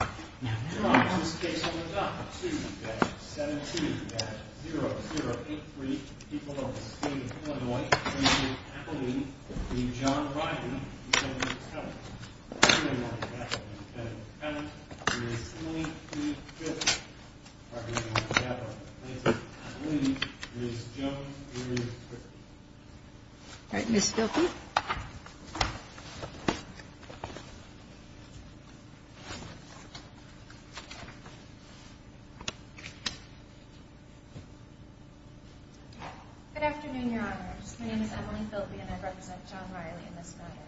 to Mr. Good afternoon, Your Honors. My name is Emily Filpi and I represent John Riley in this matter.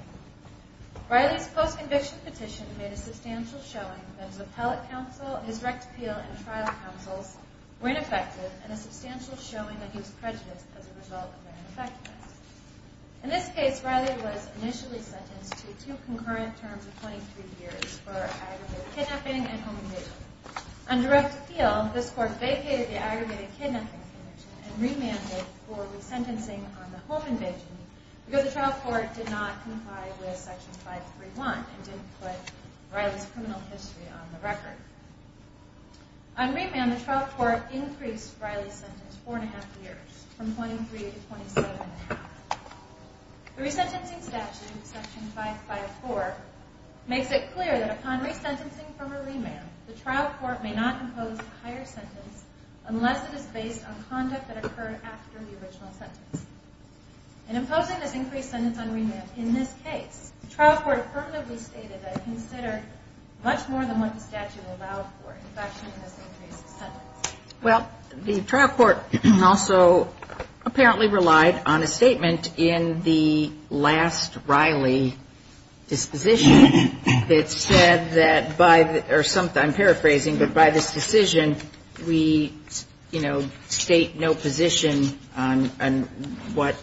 Riley's post-conviction petition made a substantial showing that his appellate counsel, his rect attorney, were ineffective and a substantial showing that he was prejudiced as a result of their ineffectiveness. In this case, Riley was initially sentenced to two concurrent terms of 23 years for aggregated kidnapping and home invasion. On direct appeal, this court vacated the aggregated kidnapping petition and remanded for resentencing on the home invasion because the trial court did not comply with Section 531 and didn't put Riley's criminal history on the record. On remand, the trial court increased Riley's sentence four and a half years from 23 to 27 and a half. The resentencing statute, Section 554, makes it clear that upon resentencing from a remand, the trial court may not impose a higher sentence unless it is based on conduct that occurred after the original sentence. In imposing this increased sentence on remand in this case, the trial court permanently stated that it considered much more than what the statute allowed for, in fact, in this increased sentence. Well, the trial court also apparently relied on a statement in the last Riley disposition that said that by the or some, I'm paraphrasing, but by this decision, we, you know, state no position on what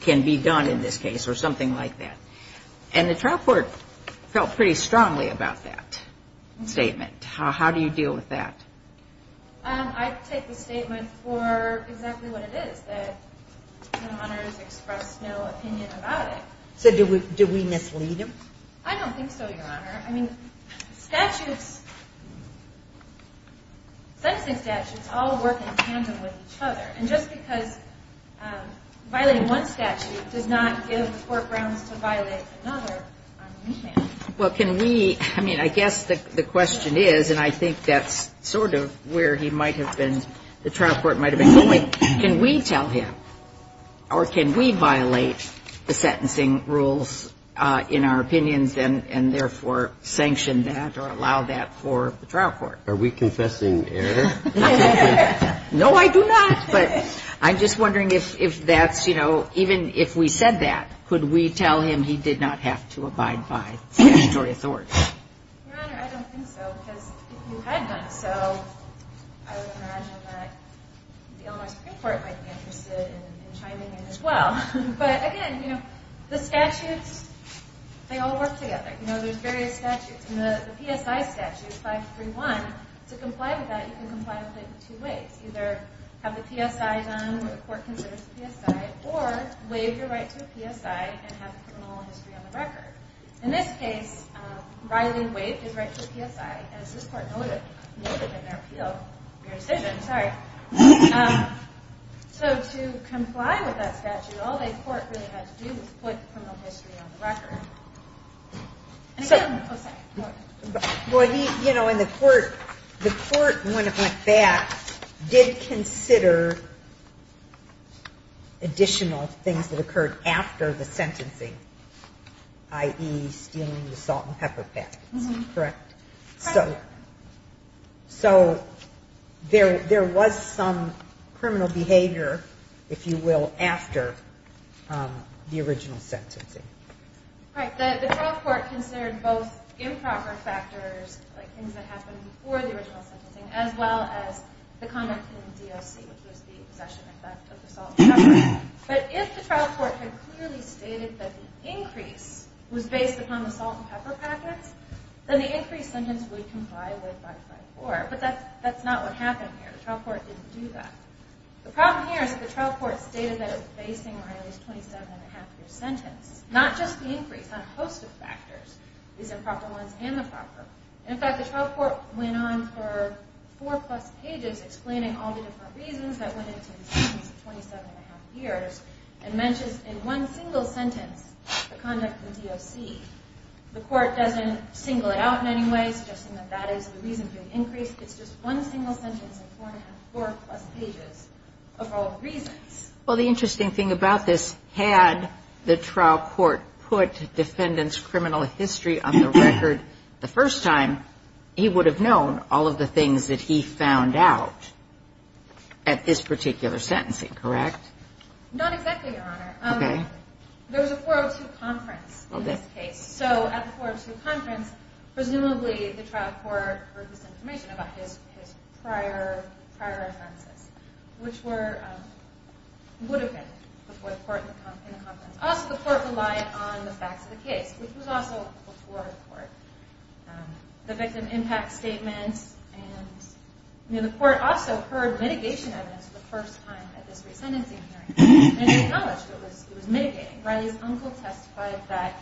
can be done in this case or something like that. And the trial court felt pretty strongly about that statement. How do you deal with that? I take the statement for exactly what it is, that the honor has expressed no opinion about it. So do we mislead him? I don't think so, Your Honor. I mean, statutes, sentencing statutes all work in tandem with each other. And just because violating one statute does not give the court grounds to violate another on remand. Well, can we, I mean, I guess the question is, and I think that's sort of where he might have been, the trial court might have been going, can we tell him or can we sanction that or allow that for the trial court? Are we confessing error? No, I do not. But I'm just wondering if that's, you know, even if we said that, could we tell him he did not have to abide by statutory authority? Your Honor, I don't think so, because if you had done so, I would imagine that the Illinois Supreme Court might be interested in chiming in as well. But again, you know, the statutes, they all work together. You know, there's various statutes. And the PSI statute, 531, to comply with that, you can comply with it in two ways. Either have the PSI done, or the court considers the PSI, or waive your right to a PSI and have criminal history on the record. In this case, Riley waived his right to a PSI, as this court noted in their appeal, your decision, sorry. So to comply with that statute, all the court really had to do was put criminal history on the record. Well, he, you know, and the court, the court, when it went back, did consider additional things that occurred after the sentencing, i.e. stealing the salt and pepper packets, correct? So there was some criminal behavior, if you will, after the original sentencing. Right. The trial court considered both improper factors, like things that happened before the original sentencing, as well as the conduct in the DOC, which was the possession and theft of the salt and pepper packets. But if the trial court had clearly stated that the increase was based upon the salt and pepper packets, then the increase sentence would comply with 554. But that's not what happened here. The trial court didn't do that. The problem here is that the trial court stated that it was basing Riley's 27 and a half year sentence, not just the increase, on a host of factors, these improper ones and the proper. In fact, the trial court went on for four plus pages explaining all the different reasons that went into the sentence of 27 and a half years, and mentions in one single sentence the conduct of the DOC. The court doesn't single it out in any way, suggesting that that is the reason for the increase. It's just one single sentence of four and a half, four plus pages of all the reasons. Well, the interesting thing about this, had the trial court put defendant's criminal history on the record the first time, he would have known all of the things that he found out at this particular sentencing, correct? Not exactly, Your Honor. There was a 402 conference in this case. So at the 402 conference, presumably the trial court heard this information about his prior offenses, which would have been before the court in the conference. Also, the court relied on the facts of the case, which was also before the court. The victim impact statements, and the court also heard litigation evidence the first time at this resentencing hearing, and acknowledged it was mitigating. Riley's uncle testified that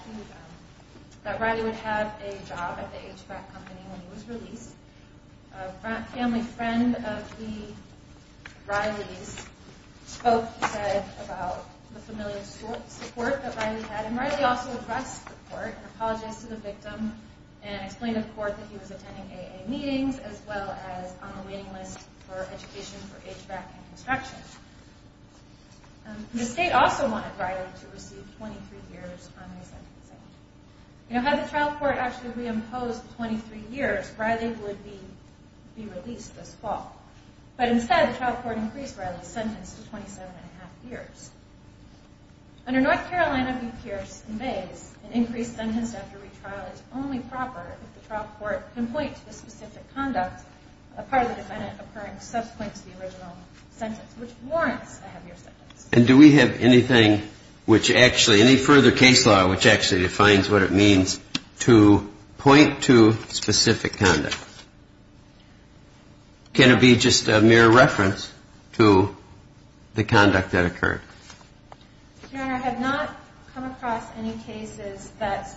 Riley would have a job at the HVAC company when he was released. A family friend of Riley's spoke, he said, about the familiar support that Riley had, and Riley also addressed the court and apologized to the victim, and explained to the court that he was The state also wanted Riley to receive 23 years on resentencing. Had the trial court actually re-imposed 23 years, Riley would be released this fall. But instead, the trial court increased Riley's sentence to 27 and a half years. Under North Carolina v. Pierce and Bays, an increased sentence after retrial is only proper if the trial court can point to the specific conduct of part of the sentence, which warrants a heavier sentence. And do we have anything which actually, any further case law which actually defines what it means to point to specific conduct? Can it be just a mere reference to the conduct that occurred? Your Honor, I have not come across any cases that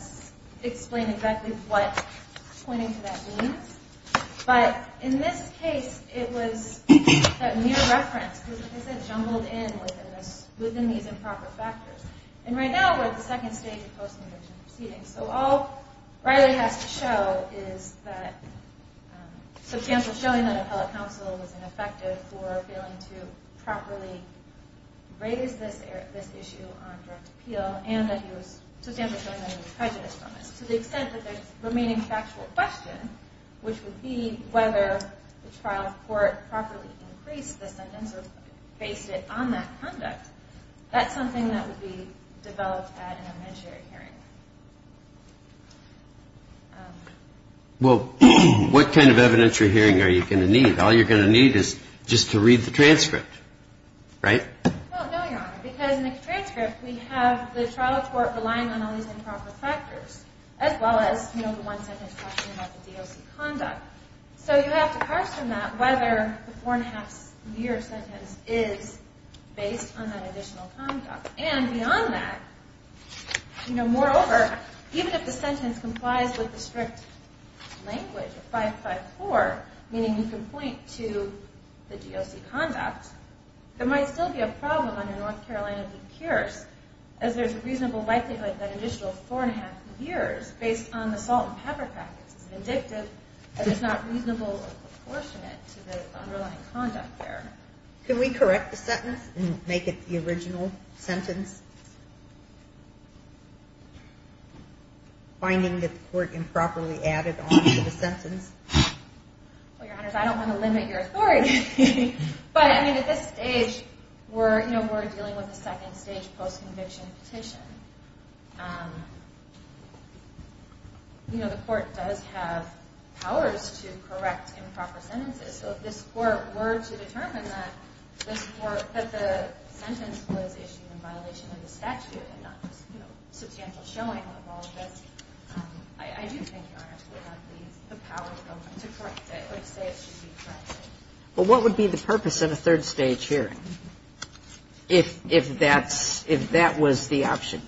explain exactly what pointing to that means. But in this case, it was a mere reference, because it jumbled in within these improper factors. And right now, we're at the second stage of post-conviction proceedings. So all Riley has to show is that substantial showing that appellate counsel was ineffective for failing to properly raise this issue on direct appeal, and that he was substantially showing To the extent that the remaining factual question, which would be whether the trial court properly increased the sentence or based it on that conduct, that's something that would be developed at an evidentiary hearing. Well, what kind of evidentiary hearing are you going to need? All you're going to need is just to read the transcript, right? Well, no, Your Honor, because in the transcript, we have the trial court relying on all these improper factors, as well as, you know, the one sentence talking about the DOC conduct. So you have to parse from that whether the four and a half year sentence is based on that additional conduct. And beyond that, you know, moreover, even if the sentence complies with the strict language of 554, meaning you can point to the DOC conduct, there might still be a problem under North Carolina v. Pierce, as there's a reasonable likelihood that an additional four and a half years, based on the salt and pepper practice, is indicative that it's not reasonable or proportionate to the underlying conduct there. Can we correct the sentence and make it the original sentence? Finding that the court improperly added on to the sentence? Well, Your Honors, I don't want to limit your authority. But, I mean, at this stage, we're, you know, we're dealing with a second stage post-conviction petition. You know, the court does have powers to correct improper sentences. So if this court were to determine that the sentence was issued in violation of the statute and not just, you know, substantial showing of all of this, I do think, Your Honors, we would have the power to correct it or to say it should be corrected. Well, what would be the purpose of a third stage hearing if that was the option?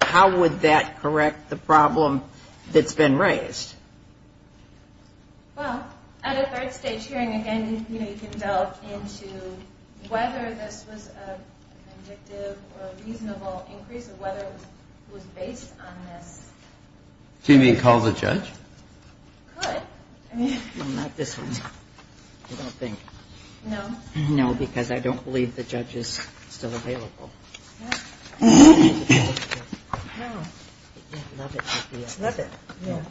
How would that correct the problem that's been raised? Well, at a third stage hearing, again, you know, you can delve into whether this was a convictive or a reasonable increase or whether it was based on this. Do you mean call the judge? Could. Well, not this one, I don't think. No? No, because I don't believe the judge is still available. Yeah. No. Love it. Love it. Yeah.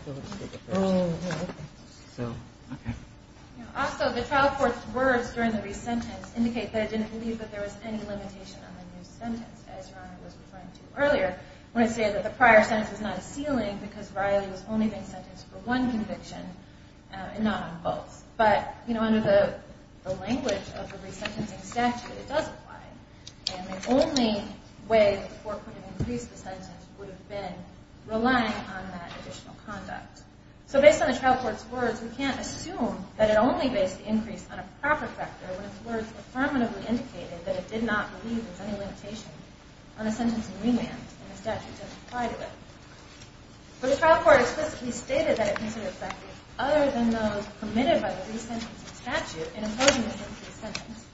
So, okay. Also, the trial court's words during the re-sentence indicate that it didn't believe that there was any limitation on the new sentence, as Your Honor was referring to earlier. I want to say that the prior sentence was not a ceiling because Riley was only being sentenced for one conviction and not on both. But, you know, under the language of the re-sentencing statute, it does apply. And the only way the court could have increased the sentence would have been relying on that additional conduct. So, based on the trial court's words, we can't assume that it only based the increase on a proper factor when its words affirmatively indicated that it did not believe there was any limitation on a sentence in remand and the statute doesn't apply to it. But the trial court explicitly stated that it considered factors other than those permitted by the re-sentencing statute in imposing this increase sentence.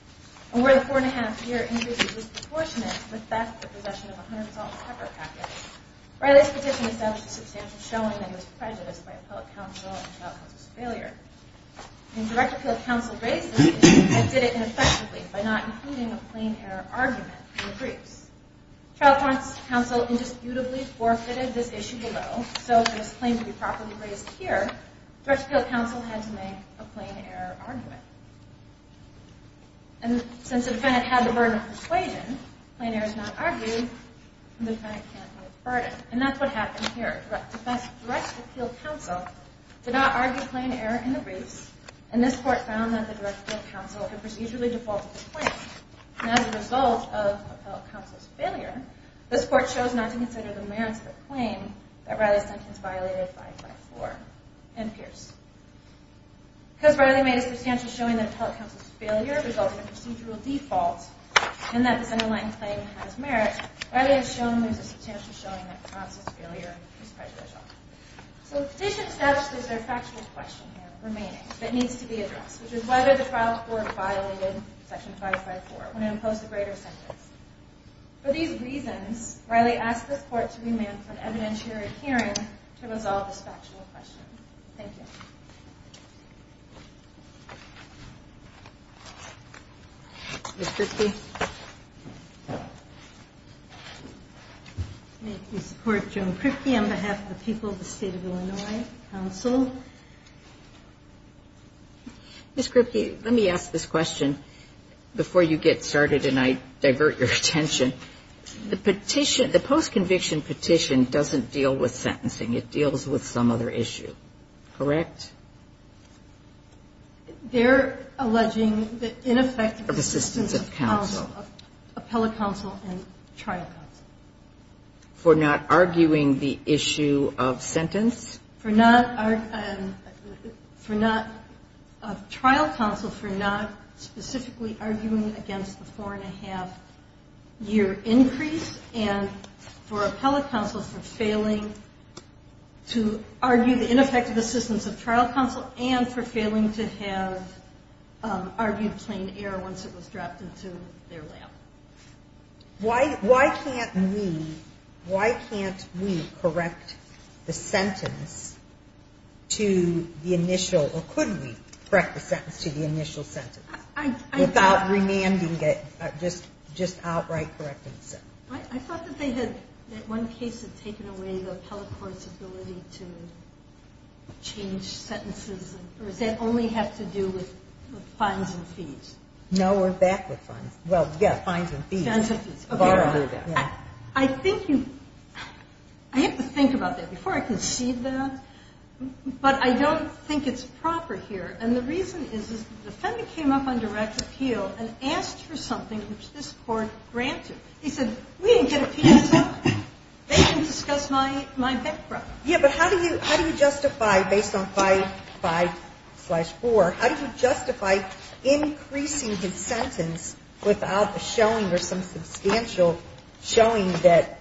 And where the four and a half year increase was disproportionate, with that, the possession of 100 salt and pepper packets, Riley's petition established a substantial showing that it was prejudiced by appellate counsel and trial counsel's failure. And direct appeal counsel raised this issue and did it ineffectively by not including a plain error argument in the briefs. Trial counsel indisputably forfeited this issue below, so for this claim to be properly raised here, direct appeal counsel had to make a plain error argument. And since the defendant had the burden of persuasion, plain error is not argued and the defendant can't be a burden. And that's what happened here. Direct appeal counsel did not argue plain error in the briefs and this court found that the direct appeal counsel had procedurally defaulted this claim. And as a result of appellate counsel's failure, this court chose not to consider the merits of the claim that Riley's sentence violated 5-5-4 and Pierce. Because Riley made a substantial showing that appellate counsel's failure resulted in procedural default and that this underlying claim has merit, Riley has shown there's a substantial showing that trial counsel's failure is prejudicial. So the petition establishes there's a factual question here remaining that needs to be addressed, which is whether the trial court violated section 5-5-4 when it imposed a greater sentence. For these reasons, Riley asked this court to remand for an evidentiary hearing to resolve this factual question. Thank you. Ms. Kripke? May I please support Joan Kripke on behalf of the people of the State of Illinois Council? Ms. Kripke, let me ask this question before you get started and I divert your attention. The petition, the post-conviction petition doesn't deal with sentencing. It deals with some other issue, correct? They're alleging the ineffective assistance of counsel, appellate counsel and trial counsel. For not arguing the issue of sentence? For not trial counsel, for not specifically arguing against the four-and-a-half year increase and for appellate counsel for failing to argue the ineffective assistance of trial counsel and for failing to have argued plain error once it was dropped into their lap. Why can't we correct the sentence to the initial or could we correct the sentence to the initial sentence without remanding it, just outright correcting the sentence? I thought that they had, in one case, taken away the appellate court's ability to change sentences. Or does that only have to do with fines and fees? No, we're back with fines. Well, yes, fines and fees. I think you – I have to think about that before I concede that. But I don't think it's proper here. And the reason is the defendant came up on direct appeal and asked for something which this Court granted. He said, we didn't get a petition. They can discuss my background. Yeah, but how do you justify, based on 5-5-4, how do you justify increasing his sentence without a showing or some substantial showing that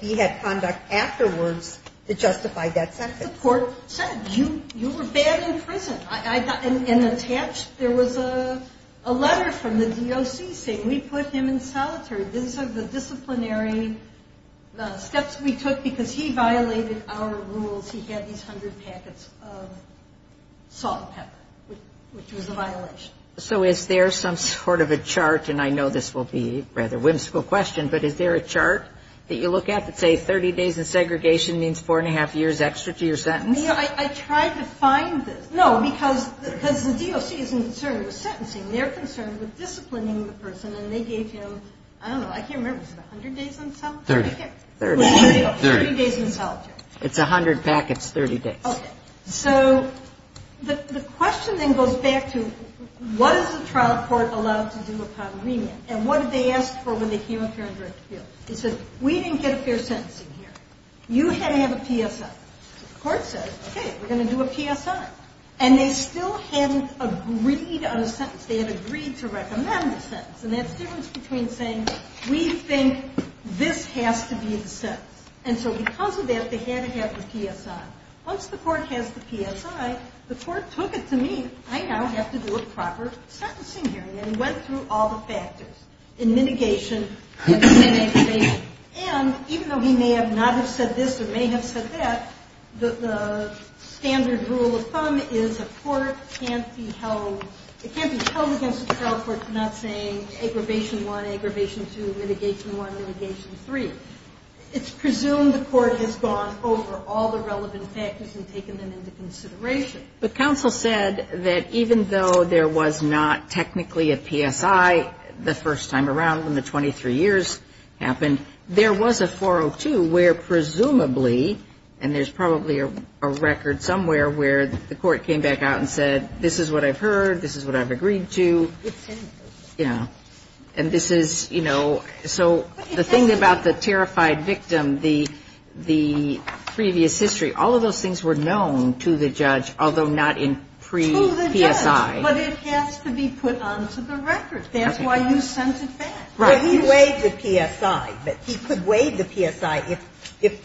he had conduct afterwards to justify that sentence? The court said, you were bad in prison. And attached, there was a letter from the DOC saying, we put him in solitary. These are the disciplinary steps we took because he violated our rules. He had these hundred packets of salt and pepper, which was a violation. So is there some sort of a chart? And I know this will be a rather whimsical question, but is there a chart that you look at that says 30 days in segregation means 4-1-2 years extra to your sentence? I tried to find this. No, because the DOC isn't concerned with sentencing. They're concerned with disciplining the person. And they gave him, I don't know, I can't remember, was it 100 days in solitary? 30. 30. 30 days in solitary. It's 100 packets, 30 days. Okay. So the question then goes back to, what is the trial court allowed to do upon remand? And what did they ask for when they came up here on direct appeal? They said, we didn't get a fair sentencing here. You had to have a PSI. So the court said, okay, we're going to do a PSI. And they still hadn't agreed on a sentence. They had agreed to recommend a sentence. And that's the difference between saying, we think this has to be the sentence. And so because of that, they had to have the PSI. Once the court has the PSI, the court took it to me. I now have to do a proper sentencing here. And they went through all the factors in mitigation and aggravation. And even though he may not have said this or may have said that, the standard rule of thumb is a court can't be held against a trial court for not saying aggravation 1, aggravation 2, mitigation 1, mitigation 3. It's presumed the court has gone over all the relevant factors and taken them into consideration. But counsel said that even though there was not technically a PSI the first time around when the 23 years happened, there was a 402 where presumably, and there's probably a record somewhere where the court came back out and said, this is what I've heard, this is what I've agreed to. It's sentence. Yeah. And this is, you know, so the thing about the terrified victim, the previous history, all of those things were known to the judge, although not in pre-PSI. To the judge. But it has to be put onto the record. That's why you sent it back. Right. But he weighed the PSI. He could weigh the PSI if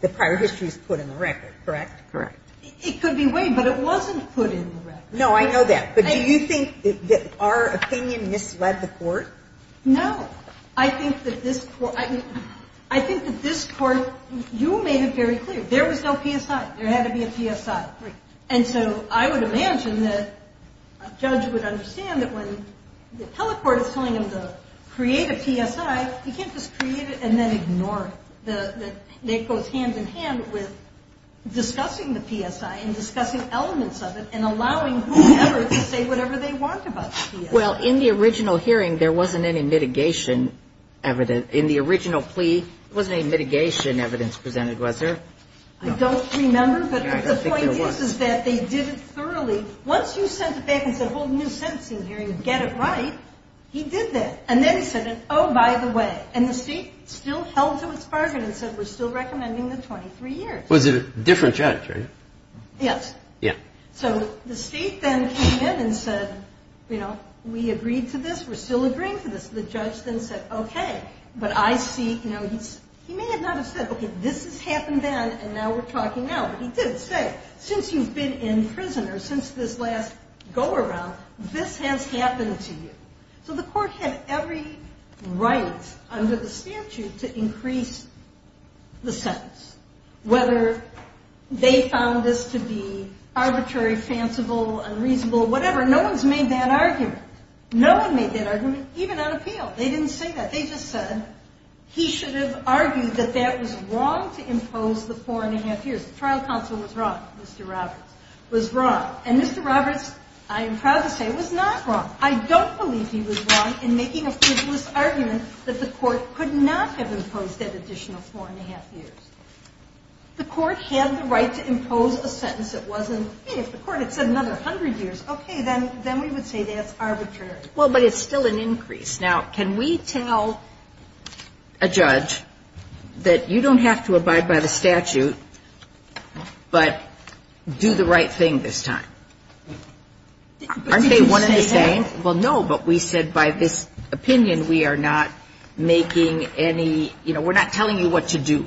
the prior history is put in the record, correct? Correct. It could be weighed, but it wasn't put in the record. No, I know that. But do you think that our opinion misled the court? No. I think that this court, you made it very clear. There was no PSI. There had to be a PSI. Right. And so I would imagine that a judge would understand that when the telecourt is telling them to create a PSI, you can't just create it and then ignore it. It goes hand in hand with discussing the PSI and discussing elements of it and allowing whoever to say whatever they want about the PSI. Well, in the original hearing, there wasn't any mitigation evidence. In the original plea, there wasn't any mitigation evidence presented, was there? I don't remember. I don't think there was. But the point is that they did it thoroughly. Once you sent it back and said, hold a new sentencing hearing and get it right, he did that. And then he said, oh, by the way. And the state still held to its bargain and said, we're still recommending the 23 years. Was it a different judge, right? Yes. Yeah. So the state then came in and said, you know, we agreed to this, we're still agreeing to this. The judge then said, okay. But I see, you know, he may not have said, okay, this has happened then and now we're talking now. But he did say, since you've been in prison or since this last go-around, this has happened to you. So the court had every right under the statute to increase the sentence, whether they found this to be arbitrary, fanciful, unreasonable, whatever. No one's made that argument. No one made that argument, even on appeal. They didn't say that. They just said he should have argued that that was wrong to impose the four-and-a-half years. The trial counsel was wrong, Mr. Roberts, was wrong. And Mr. Roberts, I am proud to say, was not wrong. The court could not have imposed that additional four-and-a-half years. The court had the right to impose a sentence that wasn't, hey, if the court had said another hundred years, okay, then we would say that's arbitrary. Well, but it's still an increase. Now, can we tell a judge that you don't have to abide by the statute, but do the right thing this time? Aren't they one and the same? Well, no. But we said by this opinion we are not making any, you know, we're not telling you what to do.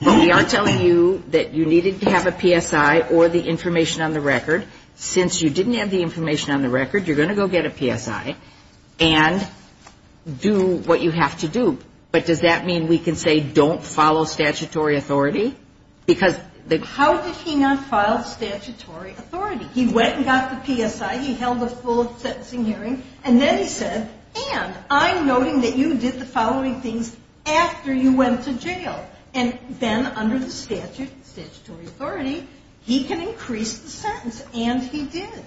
But we are telling you that you needed to have a PSI or the information on the record. Since you didn't have the information on the record, you're going to go get a PSI and do what you have to do. But does that mean we can say don't follow statutory authority? Because the ---- How did he not follow statutory authority? He went and got the PSI. He held a full sentencing hearing, and then he said, and I'm noting that you did the following things after you went to jail. And then under the statute, statutory authority, he can increase the sentence, and he did.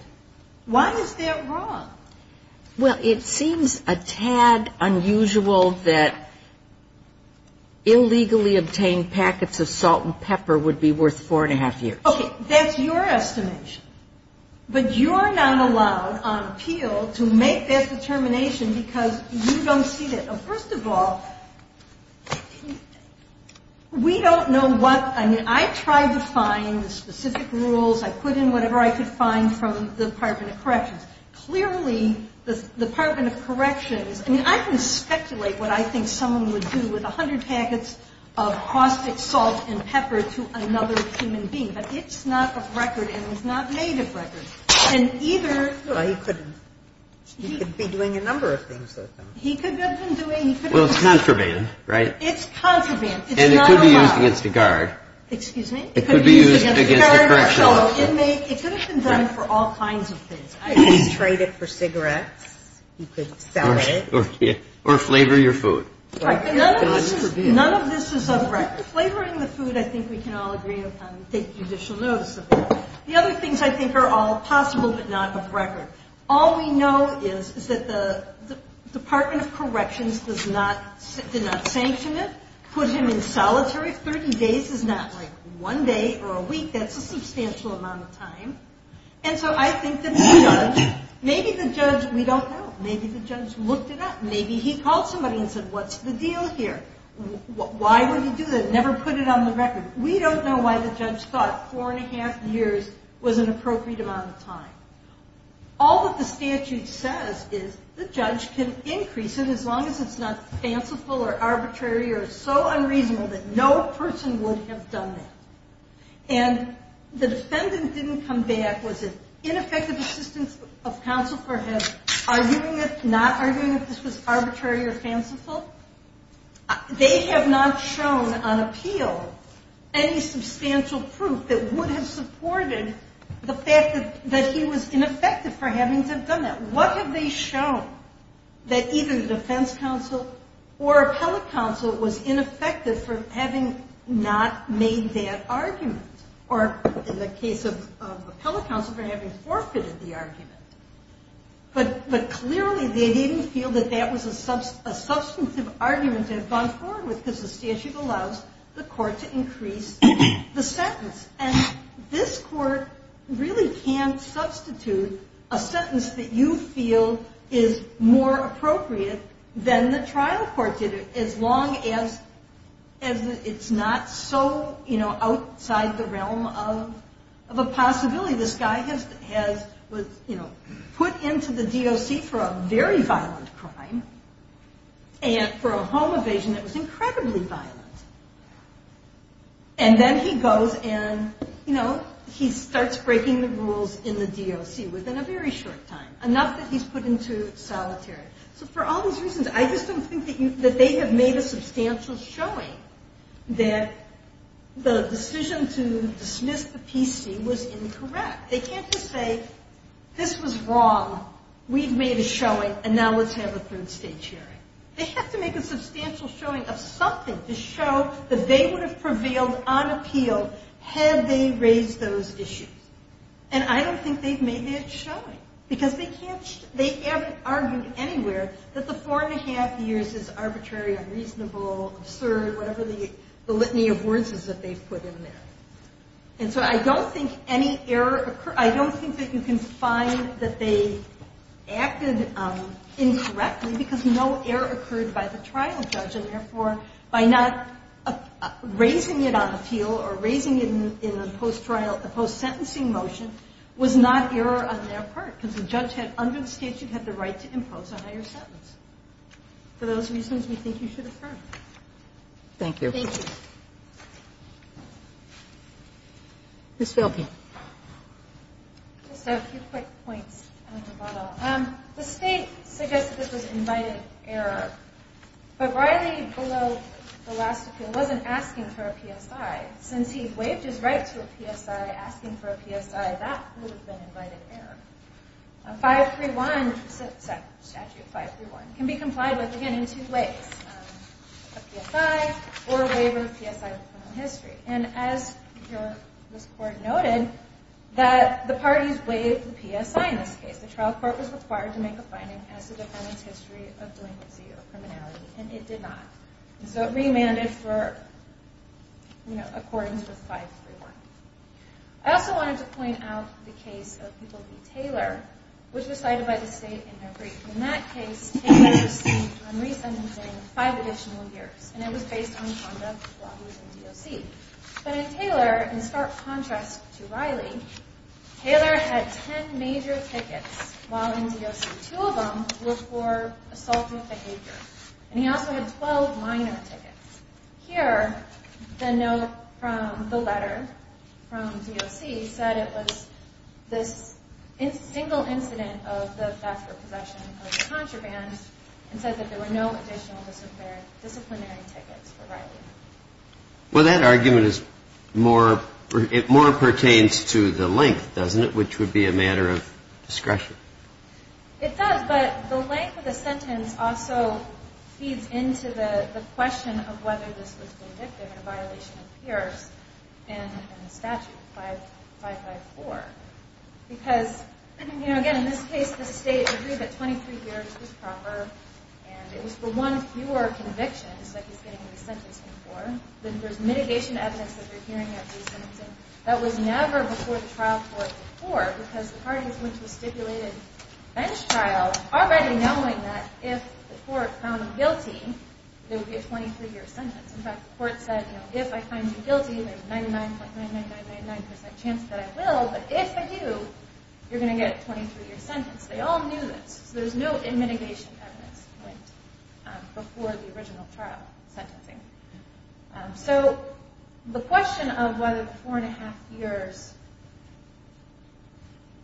Why is that wrong? Well, it seems a tad unusual that illegally obtained packets of salt and pepper would be worth four and a half years. Okay, that's your estimation. But you're not allowed on appeal to make that determination because you don't see that. First of all, we don't know what, I mean, I tried to find specific rules. I put in whatever I could find from the Department of Corrections. Clearly, the Department of Corrections, I mean, I can speculate what I think someone would do with a hundred packets of prospect salt and pepper to another human being. But it's not of record, and it's not made of record. And either he could be doing a number of things. He could have been doing. Well, it's contraband, right? It's contraband. And it could be used against a guard. Excuse me? It could be used against a correctional officer. It could have been done for all kinds of things. He could trade it for cigarettes. He could sell it. Or flavor your food. None of this is of record. Flavoring the food, I think we can all agree, take judicial notice of that. The other things I think are all possible but not of record. All we know is that the Department of Corrections did not sanction it, put him in solitary. Thirty days is not like one day or a week. That's a substantial amount of time. And so I think that the judge, maybe the judge, we don't know. Maybe the judge looked it up. Maybe he called somebody and said, what's the deal here? Why would he do that? Never put it on the record. We don't know why the judge thought four and a half years was an appropriate amount of time. All that the statute says is the judge can increase it as long as it's not fanciful or arbitrary or so unreasonable that no person would have done that. And the defendant didn't come back. Was it ineffective assistance of counsel for him, not arguing if this was arbitrary or fanciful? They have not shown on appeal any substantial proof that would have supported the fact that he was ineffective for having to have done that. What have they shown that either the defense counsel or appellate counsel was ineffective for having not made that argument? Or in the case of appellate counsel for having forfeited the argument. But clearly they didn't feel that that was a substantive argument to have gone forward with because the statute allows the court to increase the sentence. And this court really can't substitute a sentence that you feel is more appropriate than the trial court did as long as it's not so outside the realm of a possibility. This guy was put into the DOC for a very violent crime. And for a home evasion that was incredibly violent. And then he goes and he starts breaking the rules in the DOC within a very short time. Enough that he's put into solitary. So for all those reasons I just don't think that they have made a substantial showing that the decision to dismiss the PC was incorrect. They can't just say this was wrong. We've made a showing and now let's have a third stage hearing. They have to make a substantial showing of something to show that they would have prevailed on appeal had they raised those issues. And I don't think they've made that showing. Because they haven't argued anywhere that the four and a half years is arbitrary, unreasonable, absurd, whatever the litany of words is that they've put in there. And so I don't think any error occurred. I don't think that you can find that they acted incorrectly because no error occurred by the trial judge and therefore by not raising it on appeal or raising it in a post-trial, a post-sentencing motion was not error on their part. Because the judge had, under the statute, had the right to impose a higher sentence. For those reasons we think you should affirm. Thank you. Thank you. Ms. Philpott. Just a few quick points, Dr. Butler. The state suggested this was invited error. But Riley, below the last appeal, wasn't asking for a PSI. Since he waived his right to a PSI, asking for a PSI, that would have been invited error. 531, statute 531, can be complied with, again, in two ways. A PSI or a waiver of PSI in criminal history. And as this court noted, that the parties waived the PSI in this case. The trial court was required to make a finding as to the defendant's history of doing this criminality. And it did not. So it remanded for accordance with 531. I also wanted to point out the case of E. B. Taylor, which was cited by the state in their brief. In that case, Taylor received unreasonably five additional years. And it was based on conduct while he was in DOC. But in Taylor, in stark contrast to Riley, Taylor had ten major tickets while in DOC. Two of them were for assaultive behavior. And he also had 12 minor tickets. Here, the note from the letter from DOC said it was this single incident of the theft or possession of a contraband. And said that there were no additional disciplinary tickets for Riley. Well, that argument is more pertains to the length, doesn't it, which would be a matter of discretion? It does. But the length of the sentence also feeds into the question of whether this was convicted in a violation of peers in the statute, 554. Because, you know, again, in this case, the state agreed that 23 years was proper. And it was for one fewer convictions that he's getting re-sentencing for. Then there's mitigation evidence that you're hearing of re-sentencing. That was never before the trial court before. Because the parties went to a stipulated bench trial already knowing that if the court found him guilty, there would be a 23-year sentence. In fact, the court said, you know, if I find you guilty, there's a 99.99999% chance that I will. But if I do, you're going to get a 23-year sentence. They all knew this. So there's no mitigation evidence before the original trial sentencing. So the question of whether the 4 1⁄2 years,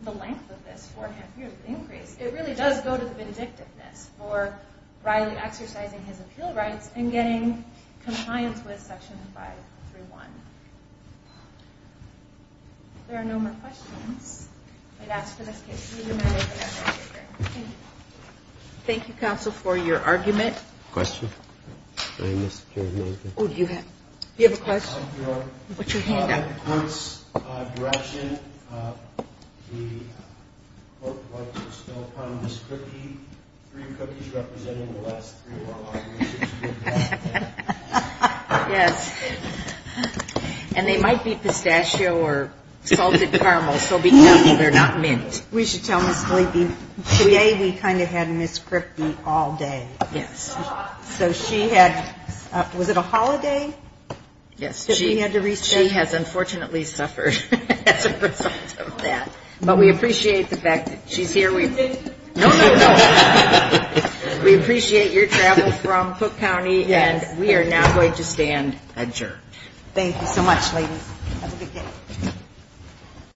the length of this 4 1⁄2 years increase, it really does go to the vindictiveness for Riley exercising his appeal rights and getting compliance with Section 531. If there are no more questions, I'd ask for this case to be remanded for next hearing. Thank you, counsel, for your argument. Questions? Do you have a question? Put your hand up. In the court's direction, the court would like to expel from this cookie three cookies representing the last three of our arguments. Yes. And they might be pistachio or salted caramel. So be careful they're not mint. We should tell Ms. Lee, today we kind of had Ms. Kripke all day. Yes. So she had, was it a holiday? Yes. That we had to reschedule? She has unfortunately suffered as a result of that. But we appreciate the fact that she's here. No, no, no. We appreciate your travel from Cook County, and we are now going to stand adjourned. Thank you so much, ladies. Have a good day.